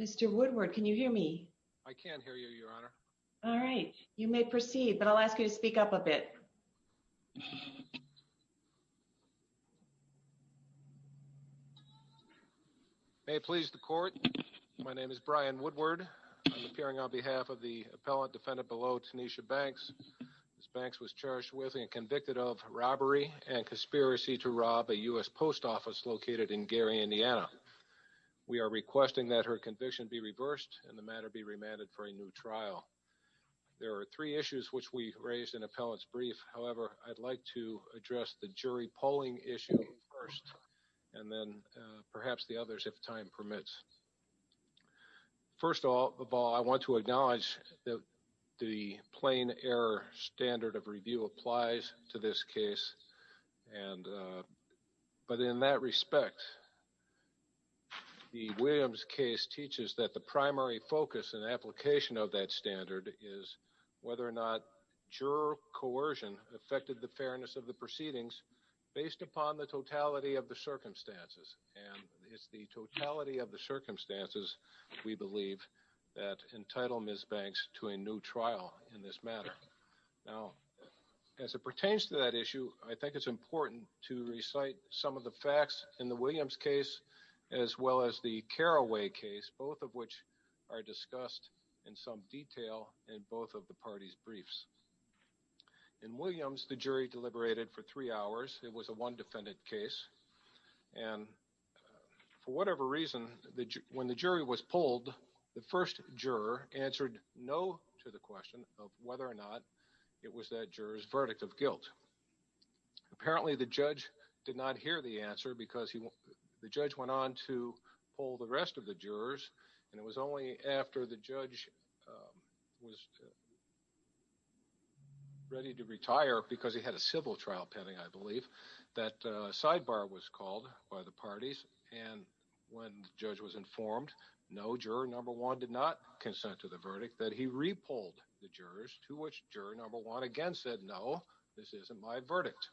Mr. Woodward, can you hear me? I can hear you, Your Honor. All right. You may proceed, but I'll ask you to speak up a bit. May it please the Court, my name is Brian Woodward. I'm appearing on behalf of the appellate defendant below, Tanisha Banks. Ms. Banks was charged with and convicted of robbery and conspiracy to rob a U.S. post office located in Gary, Indiana. We are requesting that her conviction be reversed and the matter be remanded for a new trial. There are three issues which we raised in appellate's brief. However, I'd like to address the jury polling issue first, and then perhaps the others if time permits. First of all, I want to acknowledge that the plain error standard of review applies to this case, but in that respect, the Williams case teaches that the primary focus and application of that standard is whether or not juror coercion affected the fairness of the proceedings based upon the totality of the circumstances. And it's the totality of the circumstances, we believe, that entitled Ms. Banks to a new trial in this matter. Now, as it pertains to that issue, I think it's important to recite some of the facts in the Williams case, as well as the Carraway case, both of which are discussed in some detail in both of the parties' briefs. In Williams, the jury deliberated for three hours. It was a one defendant case. And for whatever reason, when the jury was polled, the first juror answered no to the question of whether or not it was that juror's to hear the answer, because the judge went on to poll the rest of the jurors, and it was only after the judge was ready to retire, because he had a civil trial pending, I believe, that a sidebar was called by the parties. And when the judge was informed, no, juror number one did not consent to the verdict, that he re-polled the jurors, to which juror number one again said, no, this isn't my verdict.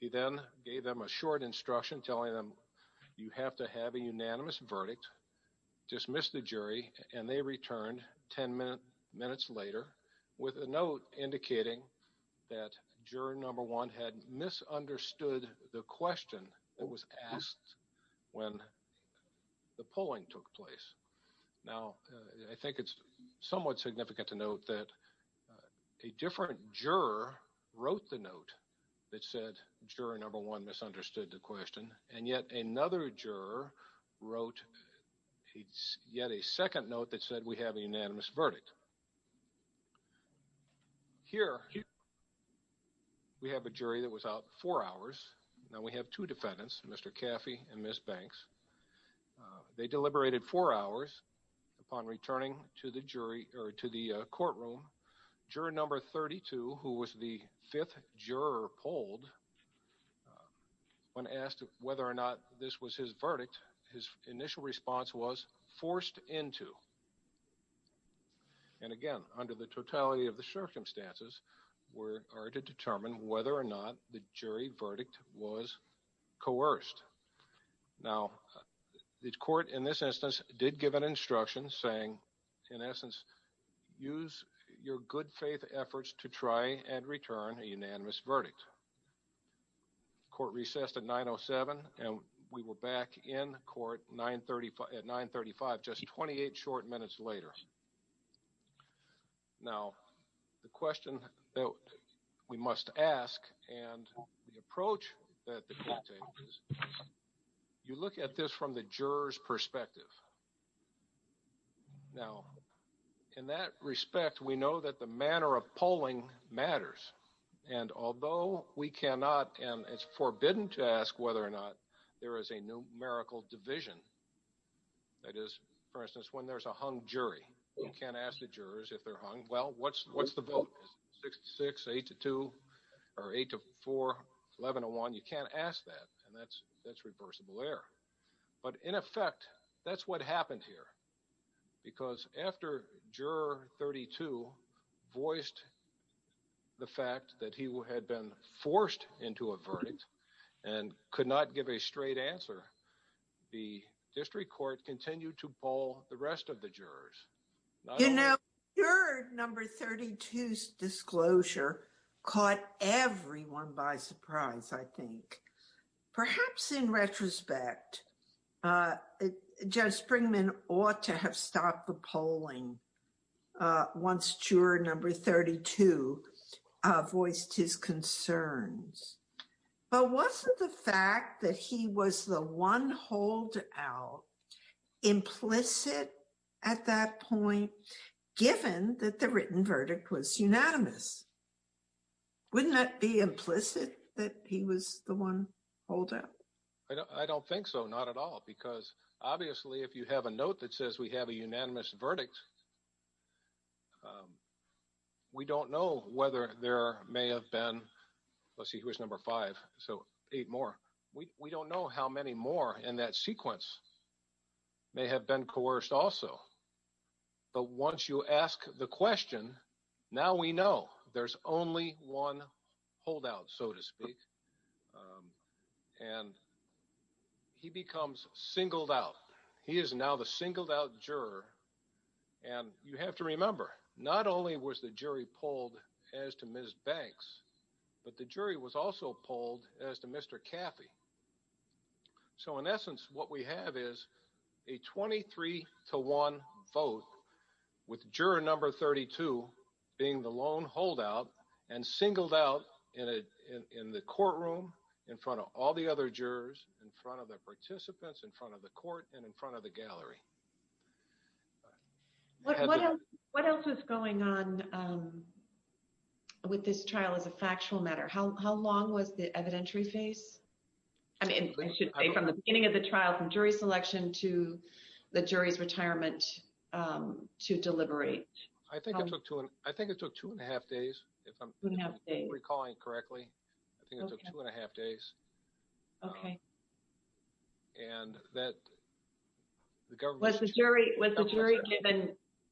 He then gave them a short instruction, telling them, you have to have a unanimous verdict. Dismissed the jury, and they returned ten minutes later with a note indicating that juror number one had misunderstood the question that was asked when the polling took place. Now, I think it's somewhat significant to note that a different juror wrote the note that said juror number one misunderstood the question, and yet another juror wrote yet a second note that said we have a unanimous verdict. Here, we have a jury that was out four hours. Now, we have two defendants, Mr. Deliberated four hours. Upon returning to the courtroom, juror number 32, who was the fifth juror polled, when asked whether or not this was his verdict, his initial response was forced into. And again, under the totality of the circumstances, we are to determine whether or not the jury verdict was coerced. Now, the court in this instance did give an instruction saying, in essence, use your good faith efforts to try and return a unanimous verdict. Court recessed at 9.07, and we were back in court at 9.35, just 28 short minutes later. Now, the question that we must ask and the approach that the court takes is, you look at this from the juror's perspective. Now, in that respect, we know that the manner of polling matters, and although we cannot and it's forbidden to ask whether or not there is a numerical division, that is, for instance, when there's a hung jury, you can't ask the jurors if they're hung, well, what's the vote? 6-6, 8-2, or 8-4, 11-1, you can't ask that, and that's reversible error. But in effect, that's what happened here, because after juror 32 voiced the fact that he had been forced into a verdict and could not give a straight answer, the district court continued to poll the rest of the jurors. You know, juror number 32's disclosure caught everyone by surprise, I think. Perhaps in juror 32 voiced his concerns, but wasn't the fact that he was the one holdout implicit at that point, given that the written verdict was unanimous? Wouldn't that be implicit, that he was the one holdout? I don't think so, not at all, because obviously, if you have a note that says we have a unanimous verdict, we don't know whether there may have been, let's see who was number 5, so 8 more, we don't know how many more in that sequence may have been coerced also. But once you ask the question, now we know there's only one holdout, so to speak, and he becomes singled out. He is now the singled out juror, and you have to remember, not only was the jury polled as to Ms. Banks, but the jury was also polled as to Mr. Caffey. So in essence, what we have is a 23 to 1 vote, with juror number 32 being the lone holdout, and singled out in the courtroom, in front of all the other jurors, in front of the participants, in front of the court, and in front of the gallery. What else is going on with this trial as a factual matter? How long was the evidentiary phase? I mean, I should say from the beginning of the trial, from jury selection to the jury's decision to deliberate. I think it took two and a half days, if I'm recalling correctly. I think it took two and a half days. Was the jury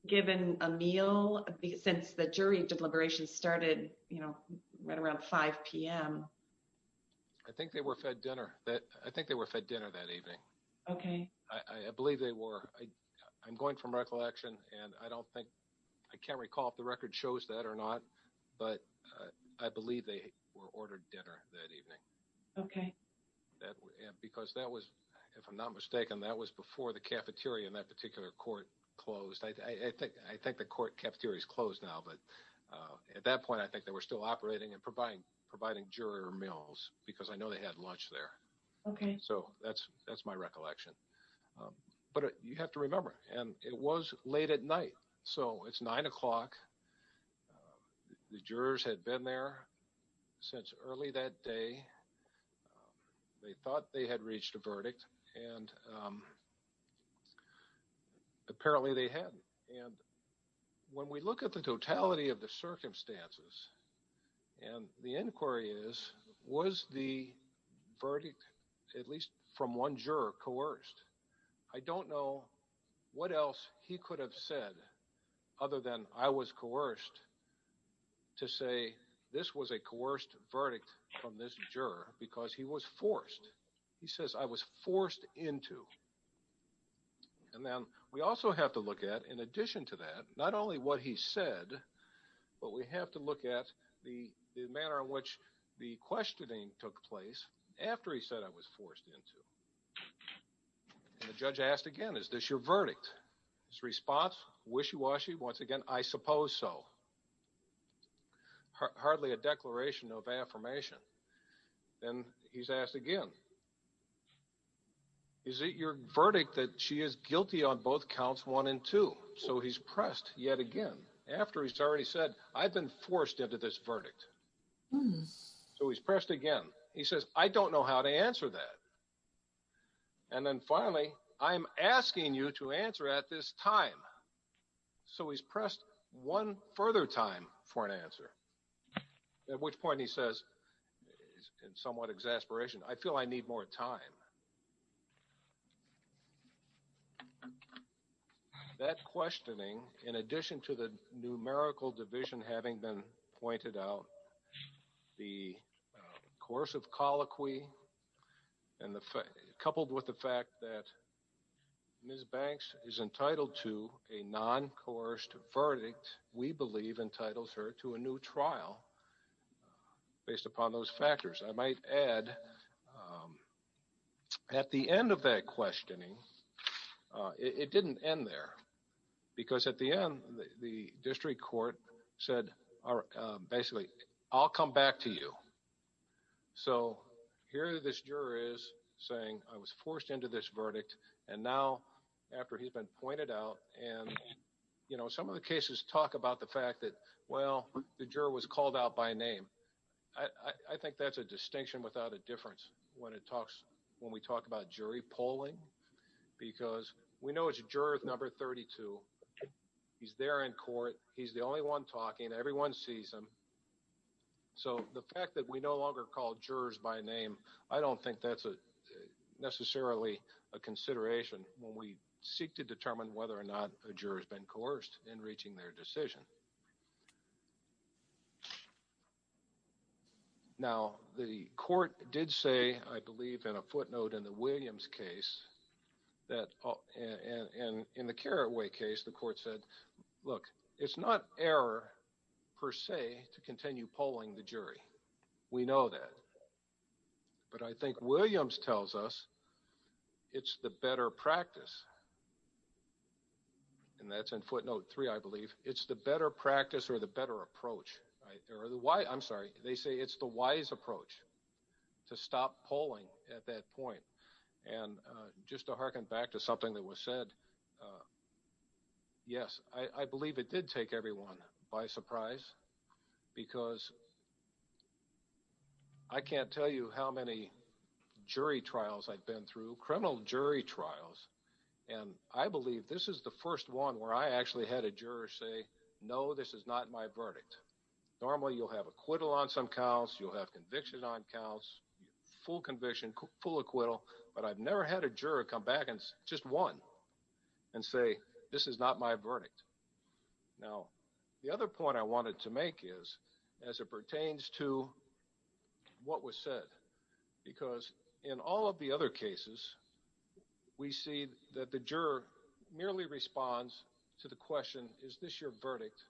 given a meal since the jury deliberations started right around 5 p.m.? I think they were fed dinner that evening. I believe they were ordered dinner that evening. Okay. Because that was, if I'm not mistaken, that was before the cafeteria in that particular court closed. I think the court cafeteria is closed now, but at that point, I think they were still operating and providing juror meals, because I know they had lunch there. Okay. So that's my recollection. But you have to remember, and it was late at night, so it's 9 o'clock. The jurors had been there since early that day. They thought they had reached a verdict, and apparently they hadn't. And when we look at the totality of the circumstances, and the inquiry is, was the verdict, at least from one juror, coerced? I don't know what else he could have said, other than I was coerced, to say this was a coerced verdict from this juror, because he was forced. He says, I was forced into. And then we also have to look at, in addition to that, not only what he said, but we have to look at the manner in which the questioning took place after he said, I was forced into. And the judge asked again, is this your verdict? His response, wishy-washy, once again, I suppose so. Hardly a declaration of affirmation. Then he's asked again, is it your verdict that she is guilty on both counts, one and two? So he's pressed yet again, after he's already said, I've been forced into this I don't know how to answer that. And then finally, I'm asking you to answer at this time. So he's pressed one further time for an answer. At which point he says, in somewhat exasperation, I feel I need more time. That questioning, in addition to the numerical division having been pointed out, the coercive colloquy, coupled with the fact that Ms. Banks is entitled to a non-coerced verdict, we believe entitles her to a new trial based upon those factors. I might add, at the end of that questioning, it didn't end there. Because at the end, the district court said, basically, I'll come back to you. So here this juror is saying, I was forced into this verdict. And now, after he's been pointed out, and some of the cases talk about the fact that, well, the juror was called out by name. I think that's a distinction without a difference when we talk about jury polling. Because we know it's juror number 32. He's there in court. He's the only one talking. Everyone sees him. So the fact that we no longer call jurors by name, I don't think that's necessarily a consideration when we seek to determine whether or not a juror has been coerced in reaching their decision. Now, the court did say, I believe in a footnote in the Williams case, and in the Carraway case, the court said, look, it's not error per se to continue polling the jury. We know that. But I think Williams tells us, it's the better practice. And that's in footnote three, I believe. It's the better practice or the better approach. I'm sorry, they say it's the wise approach to stop polling at that point. And just to harken back to something that was said, yes, I believe it did take everyone by surprise. Because I can't tell you how many jury trials I've been through, criminal jury trials, and I believe this is the first one where I actually had a juror say, no, this is not my verdict. Normally you'll have acquittal on some counts, you'll have conviction on counts, full conviction, full acquittal. But I've never had a juror come back and just one and say, this is not my verdict. Now, the other point I wanted to make is, as it pertains to what was said, because in all of the other cases, we see that the juror merely responds to the question, is this your verdict?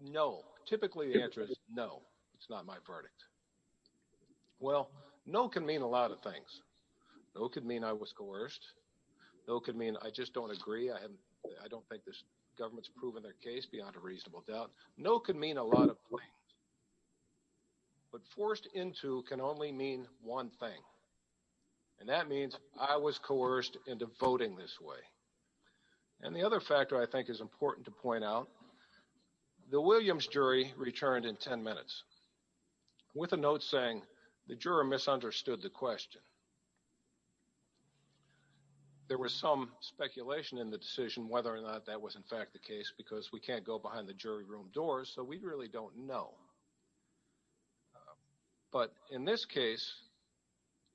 No. Typically the answer is no, it's not my verdict. Well, no can mean a lot of things. No could mean I was coerced. No could mean I just don't agree, I don't think this government's proven their case beyond a reasonable doubt. No could mean a lot of things. But forced into can only mean one thing. And that means I was coerced into voting this way. And the other factor I think is important to point out, the Williams jury returned in 10 minutes with a note saying the juror misunderstood the question. There was some speculation in the decision whether or not that was in fact the case because we can't go behind the jury room doors, so we really don't know. But in this case,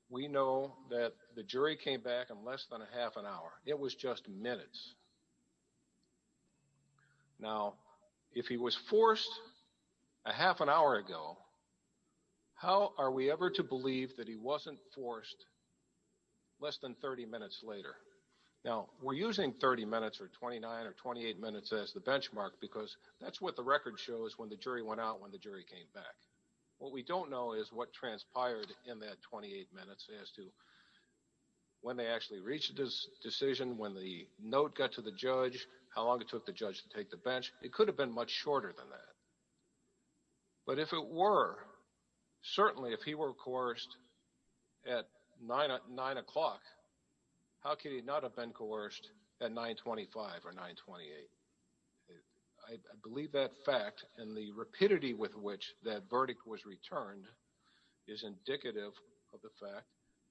we know that the jury came back in less than a half an hour. It was just minutes. Now, if he was forced a half an hour ago, how are we ever to believe that he wasn't forced less than 30 minutes later? Now, we're using 30 minutes or 29 or 28 minutes as the benchmark because that's what the record shows when the jury went out when the jury came back. What we don't know is what transpired in that decision, when the note got to the judge, how long it took the judge to take the bench. It could have been much shorter than that. But if it were, certainly if he were coerced at 9 o'clock, how could he not have been coerced at 925 or 928? I believe that fact and the rapidity with which that verdict was returned is indicative of the fact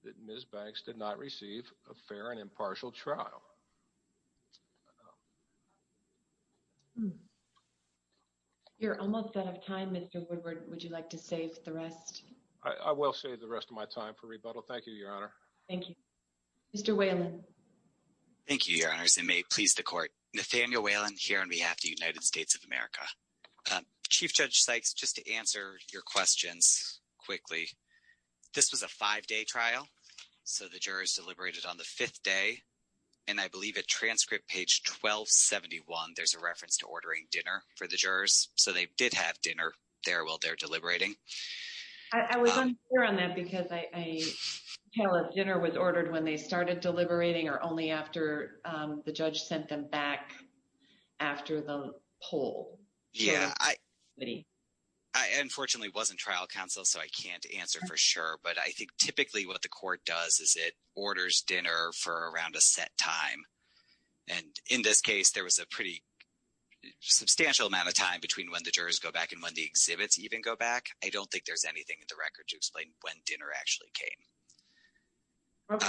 that Ms. Banks did not receive a fair and impartial trial. You're almost out of time, Mr. Woodward. Would you like to save the rest? I will save the rest of my time for rebuttal. Thank you, Your Honor. Thank you. Mr. Whalen. Thank you, Your Honors. It may please the court. Nathaniel Whalen here on behalf of the United States of America. Chief Judge Sykes, just to answer your questions quickly, this was a five-day trial. So the jurors deliberated on the fifth day. And I believe at transcript page 1271, there's a reference to ordering dinner for the jurors. So they did have dinner there while they're deliberating. I was unsure on that because a dinner was ordered when they started deliberating or only after the judge sent them back after the poll. Yeah. I unfortunately wasn't trial counsel, so I can't answer for sure. But I think typically what the court does is it orders dinner for around a set time. And in this case, there was a pretty substantial amount of time between when the jurors go back and when the exhibits even go back. I don't think there's anything in the record to explain when dinner actually came.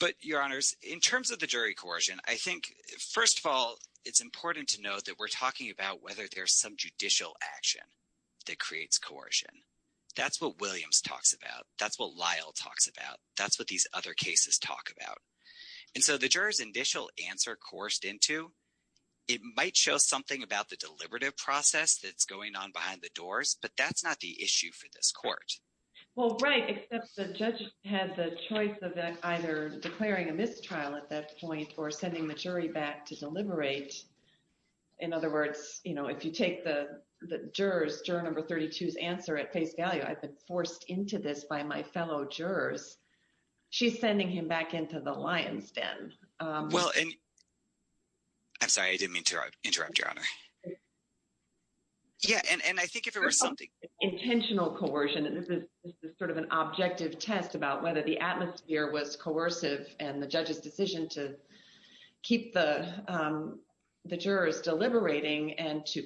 But, Your Honors, in terms of the jury coercion, I think, first of all, it's important to know that we're talking about whether there's some judicial action that creates coercion. That's what Williams talks about. That's what Lyle talks about. That's what these other cases talk about. And so the jurors' initial answer coerced into, it might show something about the deliberative process that's going on behind the doors, but that's not the issue for this court. Well, right, except the judge had the choice of either declaring a mistrial at that point or sending the jury back to deliberate. In other words, if you take the juror's, juror number 32's answer at face value, I've been forced into this by my fellow jurors. She's sending him back into the lion's den. Well, and I'm sorry, I didn't mean to interrupt, Your Honor. Yeah, and I think if there was something... Intentional coercion, this is sort of an objective test about whether the atmosphere was coercive and the judge's decision to keep the jurors deliberating and to,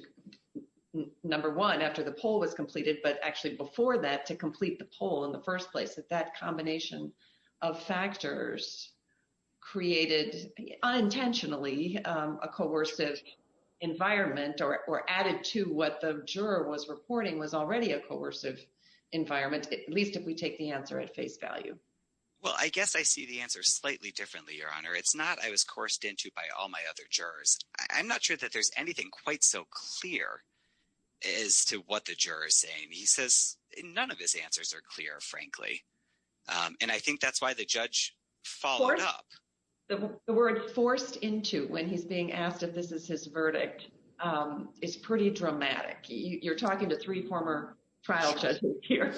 number one, after the poll was completed, but actually before that, to complete the poll in the first place, that that combination of factors created unintentionally a coercive environment or added to what the juror was reporting was already a coercive environment, at least if we take the answer at face value. Well, I guess I see the answer slightly differently, Your Honor. It's not I was coerced into by all my other jurors. I'm not sure that there's anything quite so clear as to what the juror is saying. He says none of his answers are clear, frankly, and I think that's why the judge followed up. The word forced into when he's being asked if this is his verdict is pretty dramatic. You're talking to three former trial judges here.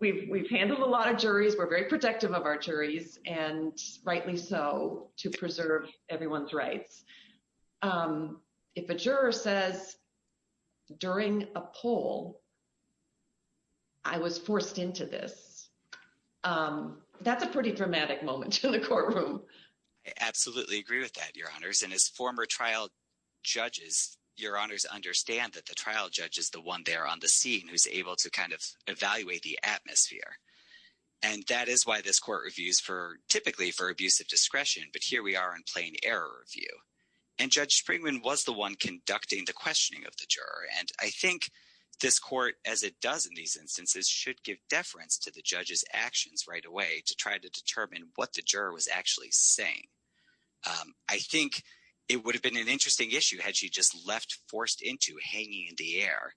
We've handled a lot of juries. We're very protective of our juries, and rightly so, to preserve everyone's rights. If a juror says during a poll, I was forced into this, that's a pretty dramatic moment in the courtroom. I absolutely agree with that, Your Honors, and as former trial judges, Your Honors understand that the trial judge is the one there on the scene who's able to kind of evaluate the atmosphere, and that is why this court reviews typically for abusive discretion, but here we are in plain error review, and Judge Springman was the one conducting the questioning of the juror, and I think this court, as it does in these instances, should give deference to the judge's actions right away to try to determine what the juror was actually saying. I think it would have been an interesting issue had she just left forced into hanging in the air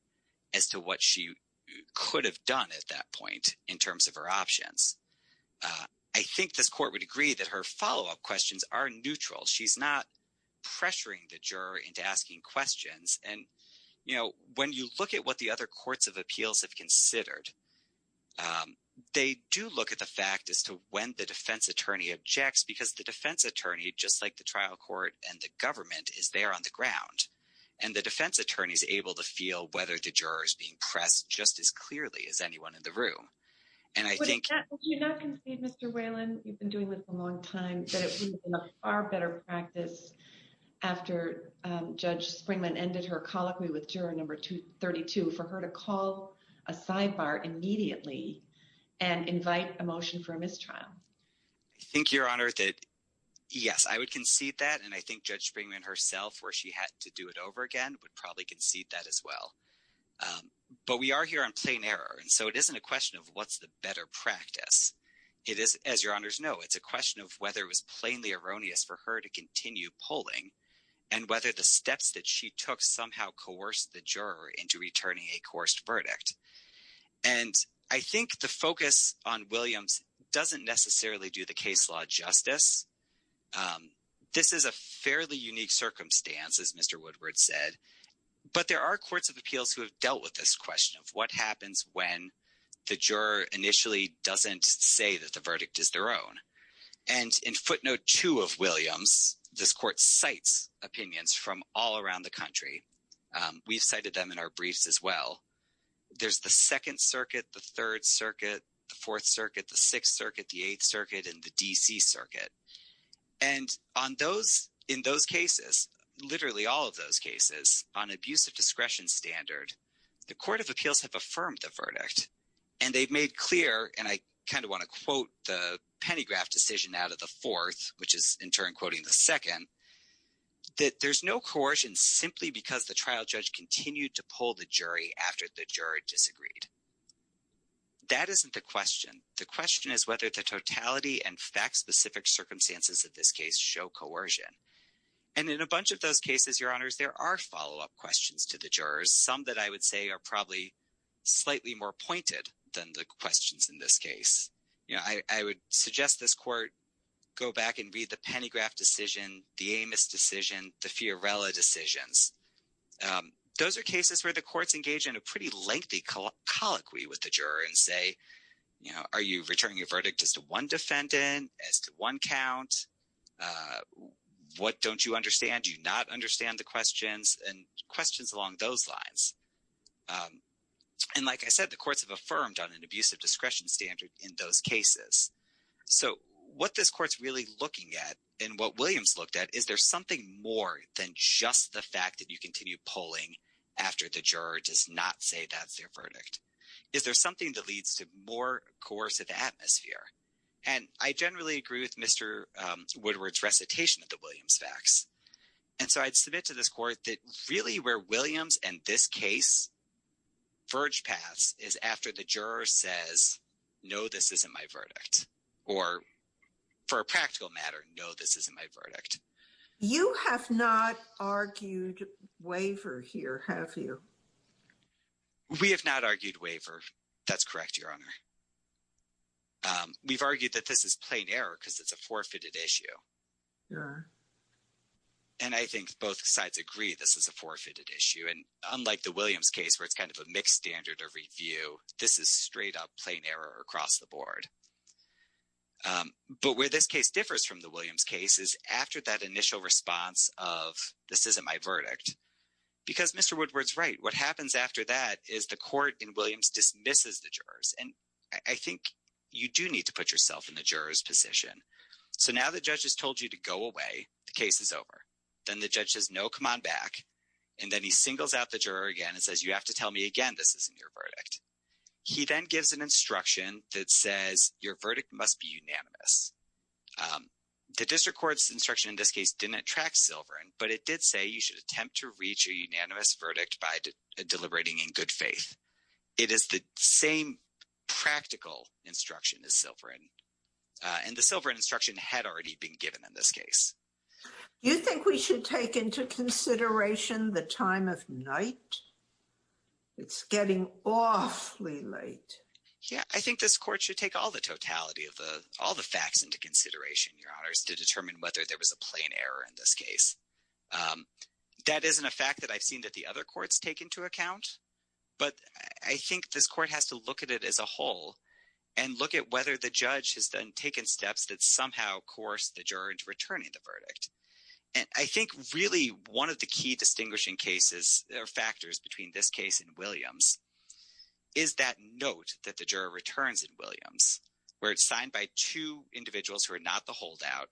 as to what she could have done at that point in terms of her options. I think this court would agree that her follow-up questions are neutral. She's not pressuring the juror into asking questions, and when you look at what the other courts of appeals have considered, they do look at the fact as to when the defense attorney objects because the defense attorney, just like the trial court and the government, is there on the ground, and the defense attorney is able to feel whether the juror is being pressed just as clearly as anyone in the room, and I think... Would you not concede, Mr. Whalen, you've been doing this a long time, that it would have been a far better practice after Judge Springman ended her colloquy with juror number 32 for her to call a sidebar immediately and invite a motion for a mistrial? I think, Your Honor, that yes, I would concede that, and I think Judge Springman herself, where she had to do it over again, would probably concede that as well. But we are here on plain error, and so it isn't a question of what's the better practice. It is, as Your Honors know, it's a question of whether it was plainly erroneous for her to continue polling and whether the steps that she took somehow coerced the juror into returning a coerced verdict. And I think the focus on Williams doesn't necessarily do the case law justice. This is a fairly unique circumstance, as Mr. Woodward said, but there are courts of appeals who have dealt with this question of what happens when the juror initially doesn't say that the verdict is their own. And in footnote two of Williams, this court cites opinions from all around the country. We've cited them in our briefs as well. There's the 2nd Circuit, the 3rd Circuit, the 4th Circuit, the 6th Circuit, the 8th Circuit, and the D.C. Circuit. And on those, in those cases, literally all of those cases, on abuse of discretion standard, the court of appeals have affirmed the verdict, and they've made clear, and I kind of want to quote the pentagraph decision out of the 4th, which is in turn no coercion simply because the trial judge continued to pull the jury after the juror disagreed. That isn't the question. The question is whether the totality and fact-specific circumstances of this case show coercion. And in a bunch of those cases, Your Honors, there are follow-up questions to the jurors, some that I would say are probably slightly more pointed than the questions in this case. You know, I would suggest this court go back and read the pentagraph decision, the Amos decision, the Fiorella decisions. Those are cases where the courts engage in a pretty lengthy colloquy with the juror and say, you know, are you returning your verdict as to one defendant, as to one count? What don't you understand? Do you not understand the questions? And questions along those lines. And like I said, the courts have affirmed on an abuse of discretion standard in those cases. So what this court's really looking at and what Williams looked at, is there something more than just the fact that you continue pulling after the juror does not say that's their verdict? Is there something that leads to more coercive atmosphere? And I generally agree with Mr. Woodward's recitation of the Williams facts. And so I'd submit to this court that really where Williams and this case verge paths is after the verdict. Or for a practical matter, no, this isn't my verdict. You have not argued waiver here, have you? We have not argued waiver. That's correct, Your Honor. We've argued that this is plain error because it's a forfeited issue. Yeah. And I think both sides agree this is a forfeited issue. And unlike the Williams case where it's kind of a mixed standard of review, this is straight up plain error across the board. But where this case differs from the Williams case is after that initial response of this isn't my verdict. Because Mr. Woodward's right. What happens after that is the court in Williams dismisses the jurors. And I think you do need to put yourself in the juror's position. So now the judge has told you to go away, the case is over. Then the judge says, no, come on back. And then he singles out the juror again and says, you have to tell me again, this isn't your verdict. He then gives an instruction that says your verdict must be unanimous. The district court's instruction in this case didn't attract Silverin, but it did say you should attempt to reach a unanimous verdict by deliberating in good faith. It is the same practical instruction as Silverin. And the Silverin instruction had already been given in this case. You think we should take into consideration the time of night? It's getting awfully late. Yeah, I think this court should take all the totality of all the facts into consideration, Your Honors, to determine whether there was a plain error in this case. That isn't a fact that I've seen that the other courts take into account. But I think this court has to look at it as a whole and look at whether the judge has then taken steps that somehow coerced the juror into returning the verdict. And I think really one of the key distinguishing cases or factors between this case and Williams is that note that the juror returns in Williams where it's signed by two individuals who are not the holdout.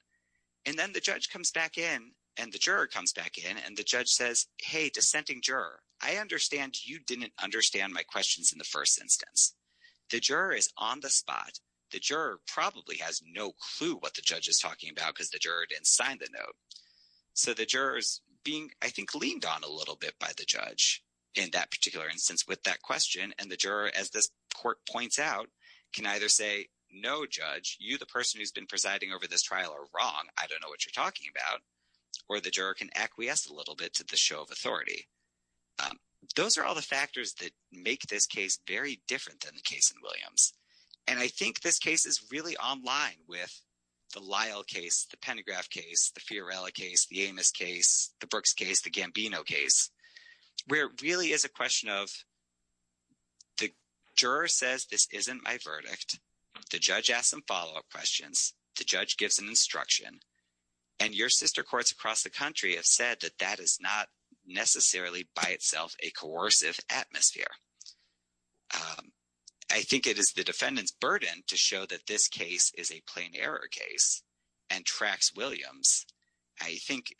And then the judge comes back in and the juror comes back in and the judge says, hey, dissenting juror, I understand you didn't understand my questions in the first instance. The juror is on the spot. The juror probably has no clue what the judge is talking about because the juror didn't sign the note. So the juror is being, I think, leaned on a little bit by the judge in that particular instance with that question. And the juror, as this court points out, can either say, no, judge, you, the person who's been presiding over this trial, are wrong. I don't know what you're talking about. Or the juror can acquiesce a little bit to the show of authority. Those are all the factors that make this case very different than the case in Williams. And I think this case is really online with the Lyle case, the Pendergraft case, the Fiorella case, the Amos case, the Brooks case, the Gambino case, where it really is a question of the juror says this isn't my verdict. The judge asks some follow-up questions. The judge gives an instruction. And your sister courts across the country have said that that is not necessarily by itself a coercive atmosphere. I think it is the defendant's burden to show that this case is a plain error case and tracks Williams. I think,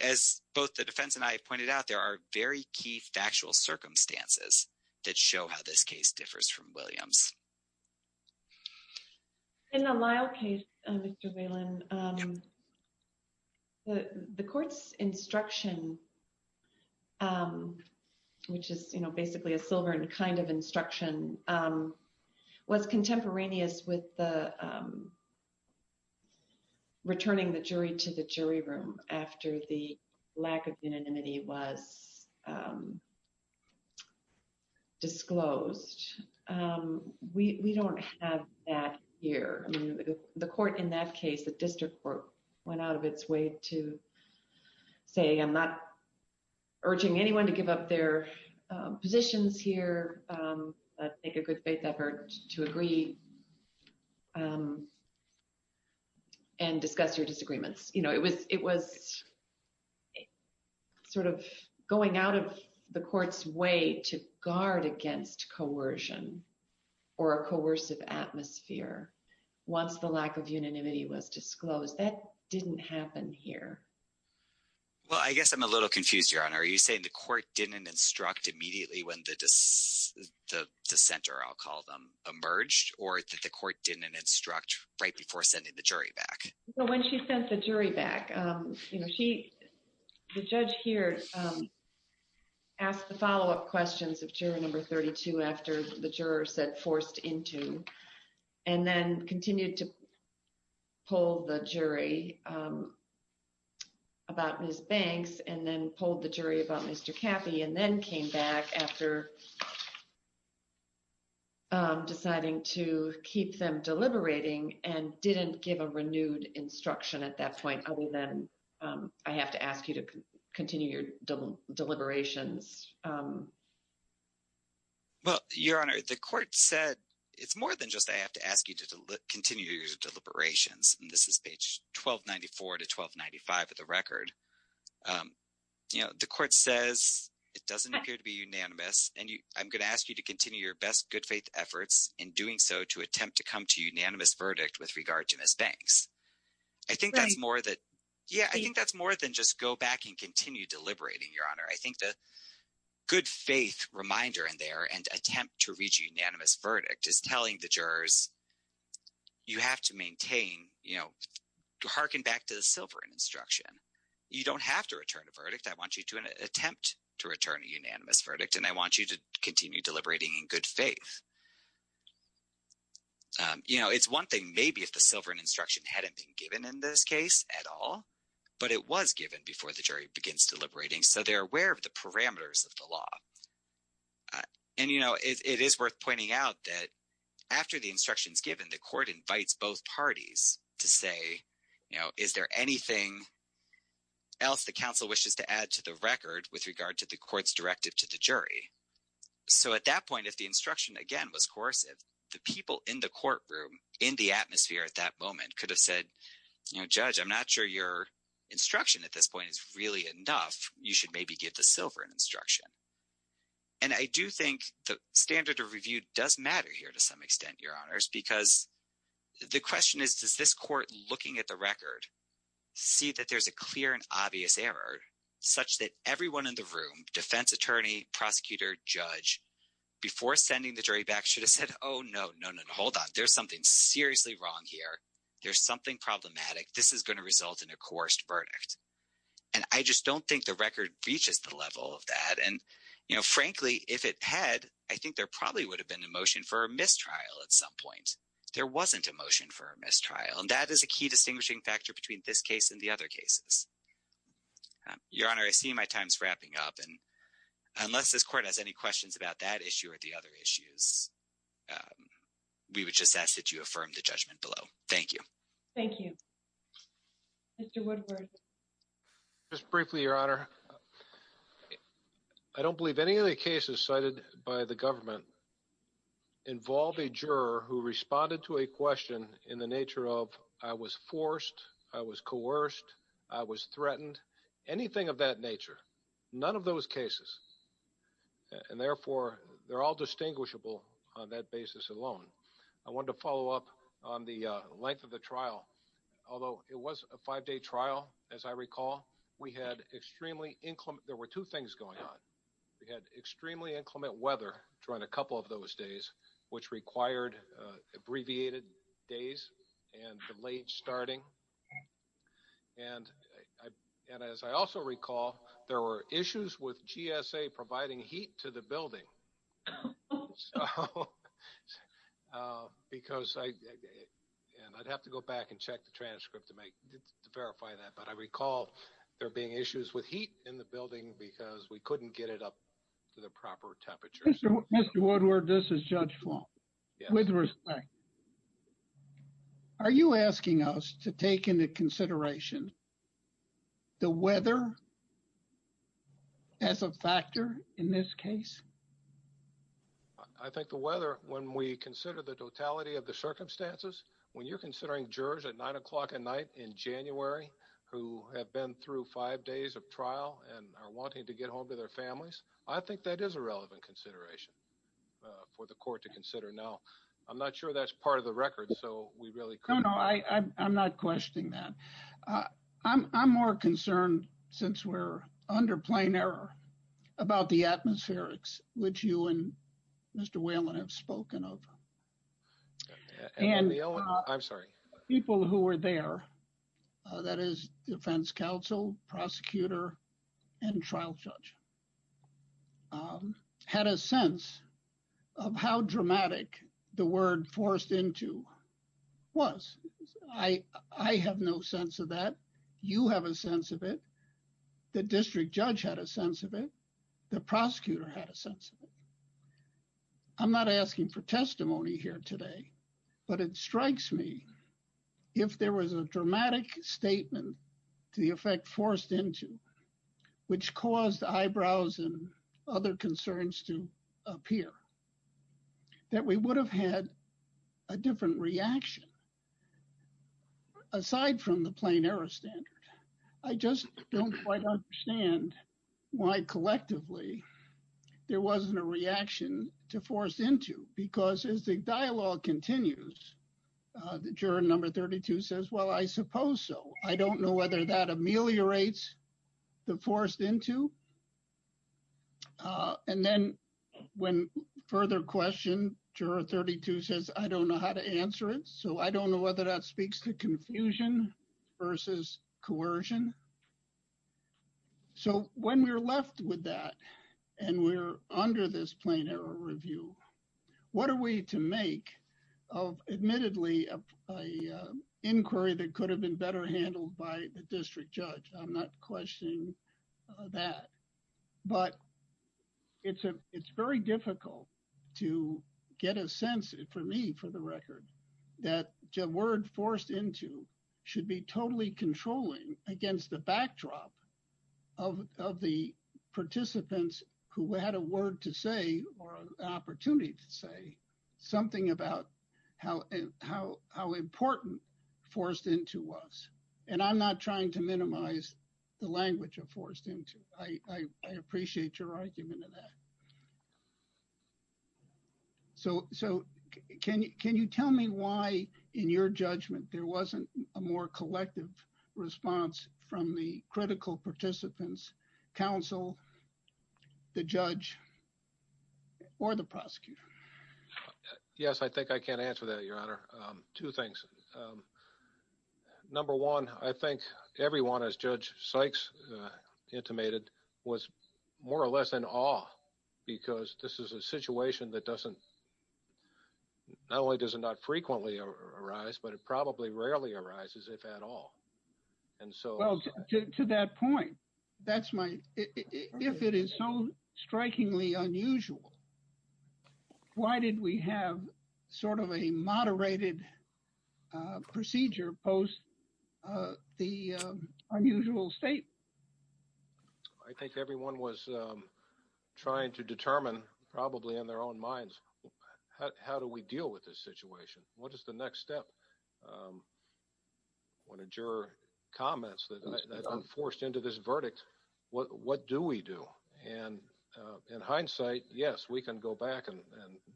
as both the defense and I have pointed out, there are very key factual circumstances that show how this case differs from Williams. In the Lyle case, Mr. Whelan, the court's instruction, which is basically a silver kind of instruction, was contemporaneous with the returning the jury to the jury room after the lack of unanimity was disclosed. We don't have that here. The court in that case, the district court, went out of its way to say I'm not urging anyone to give up their positions here, make a good faith effort to agree and discuss your disagreements. It was sort of going out of the court's way to guard against coercion or a coercive atmosphere once the lack of unanimity was disclosed. That didn't happen here. Well, I guess I'm a little confused, Your Honor. Are you saying the court didn't instruct immediately when the dissenter, I'll call them, emerged or that the court didn't instruct right before sending the jury back? When she sent the jury back, the judge here asked the follow-up questions of juror number about Ms. Banks and then polled the jury about Mr. Caffey and then came back after deciding to keep them deliberating and didn't give a renewed instruction at that point other than I have to ask you to continue your deliberations. Well, Your Honor, the court said it's more than just I have to ask you to continue your good faith efforts in doing so to attempt to come to unanimous verdict with regard to Ms. Banks. I think that's more than just go back and continue deliberating, Your Honor. I think the good faith reminder in there and attempt to reach a unanimous verdict is telling the jurors, you have to maintain, you know, harken back to the silver in this case. You don't have to return a verdict. I want you to attempt to return a unanimous verdict and I want you to continue deliberating in good faith. You know, it's one thing maybe if the silver in instruction hadn't been given in this case at all, but it was given before the jury begins deliberating so they're aware of the parameters of the law. And, you know, it is worth pointing out that after the instruction is given, the court invites both parties to say, you know, is there anything else the council wishes to add to the record with regard to the court's directive to the jury? So at that point, if the instruction again was coercive, the people in the courtroom in the atmosphere at that moment could have said, you know, Judge, I'm not sure your instruction at this point is really enough. You should maybe give the silver an instruction. And I do think the standard of review does matter here to some extent, Your Honors, because the question is, does this court looking at the record see that there's a clear and obvious error such that everyone in the room, defense attorney, prosecutor, judge, before sending the jury back should have said, oh, no, no, no, hold on. There's something seriously wrong here. There's something problematic. This is going to result in a coerced verdict. And I just don't think the record reaches the level of that. And, you know, frankly, if it had, I think there probably would have been a motion for a mistrial at some point. There wasn't a motion for a mistrial. And that is a key distinguishing factor between this case and the other cases. Your Honor, I see my time's wrapping up. And unless this court has any questions about that issue or the other issues, we would just ask that you affirm the judgment below. Thank you. Thank you. Mr. Woodward. Just briefly, Your Honor, I don't believe any of the cases cited by the government involve a juror who responded to a question in the nature of, I was forced, I was coerced, I was threatened. Anything of that nature. None of those cases. And therefore, they're all distinguishable on that basis alone. I wanted to follow up on the length of the trial. Although it was a five-day trial, as I recall, we had extremely inclement, there were two things going on. We had extremely inclement weather during a couple of those days, which required abbreviated days and the late starting. And as I also recall, there were issues with GSA providing heat to the building. And I'd have to go back and check the transcript to verify that. But I recall there being issues with heat in the building because we couldn't get it up to the proper temperature. Mr. Woodward, this is Judge Flom, with respect. Are you asking us to take into consideration the weather as a factor in this case? I think the weather, when we consider the totality of the circumstances, when you're considering jurors at 9 o'clock at night in January, who have been through five days of trial and are wanting to get home to their families, I think that is a relevant consideration for the court to consider. Now, I'm not sure that's part of the record, so we really couldn't... No, no, I'm not questioning that. I'm more concerned, since we're under plain error, about the atmospherics, which you and Mr. Whelan have spoken of. And... I'm sorry. People who were there, that is, defense counsel, prosecutor, and trial judge. Had a sense of how dramatic the word forced into was. I have no sense of that. You have a sense of it. The district judge had a sense of it. The prosecutor had a sense of it. I'm not asking for testimony here today, but it strikes me, if there was a dramatic statement to the effect forced into, which caused eyebrows and other concerns to appear, that we would have had a different reaction, aside from the plain error standard. I just don't quite understand why, collectively, there wasn't a reaction to forced into. Because as the dialogue continues, the juror number 32 says, well, I suppose so. I don't know whether that ameliorates the forced into. And then, when further question, juror 32 says, I don't know how to answer it. So, I don't know whether that speaks to confusion versus coercion. So, when we're left with that, and we're under this plain error review, what are we to make of, admittedly, a inquiry that could have been better handled by the district judge? I'm not questioning that. But it's very difficult to get a sense, for me, for the record, that a word forced into should be totally controlling against the backdrop of the participants who had a word to say, or an opportunity to say, something about how important forced into was. And I'm not trying to minimize the language of forced into. I appreciate your argument in that. So, can you tell me why, in your judgment, there wasn't a more collective response from the critical participants, counsel, the judge, or the prosecutor? Yes, I think I can answer that, Your Honor. Two things. Number one, I think everyone, as Judge Sykes intimated, was more or less in awe, because this is a situation that doesn't, not only does it not frequently arise, but it probably rarely arises, if at all. And so... Well, to that point, that's my... If it is so strikingly unusual, why did we have sort of a moderated procedure post the unusual state? I think everyone was trying to determine, probably in their own minds, how do we deal with this situation? What is the next step? One of your comments that were forced into this verdict, what do we do? And in hindsight, yes, we can go back and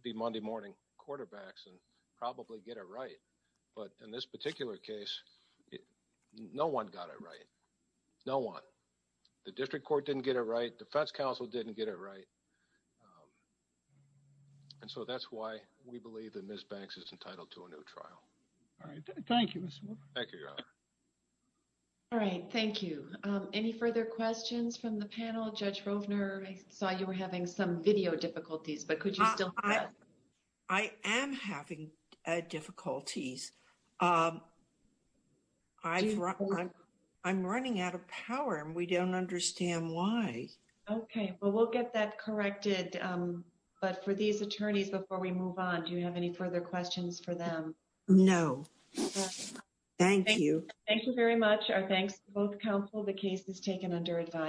be Monday morning quarterbacks and probably get it right. But in this particular case, no one got it right. No one. The district court didn't get it right. Defense counsel didn't get it right. And so that's why we believe that Ms. Banks is entitled to a new trial. All right, thank you, Mr. Moore. Thank you, Your Honor. All right, thank you. Any further questions from the panel? Judge Rovner, I saw you were having some video difficulties, but could you still hear us? I am having difficulties. I'm running out of power and we don't understand why. Okay, well, we'll get that corrected. But for these attorneys, before we move on, do you have any further questions for them? No. Thank you. Thank you very much. Our thanks to both counsel. The case is taken under advisory.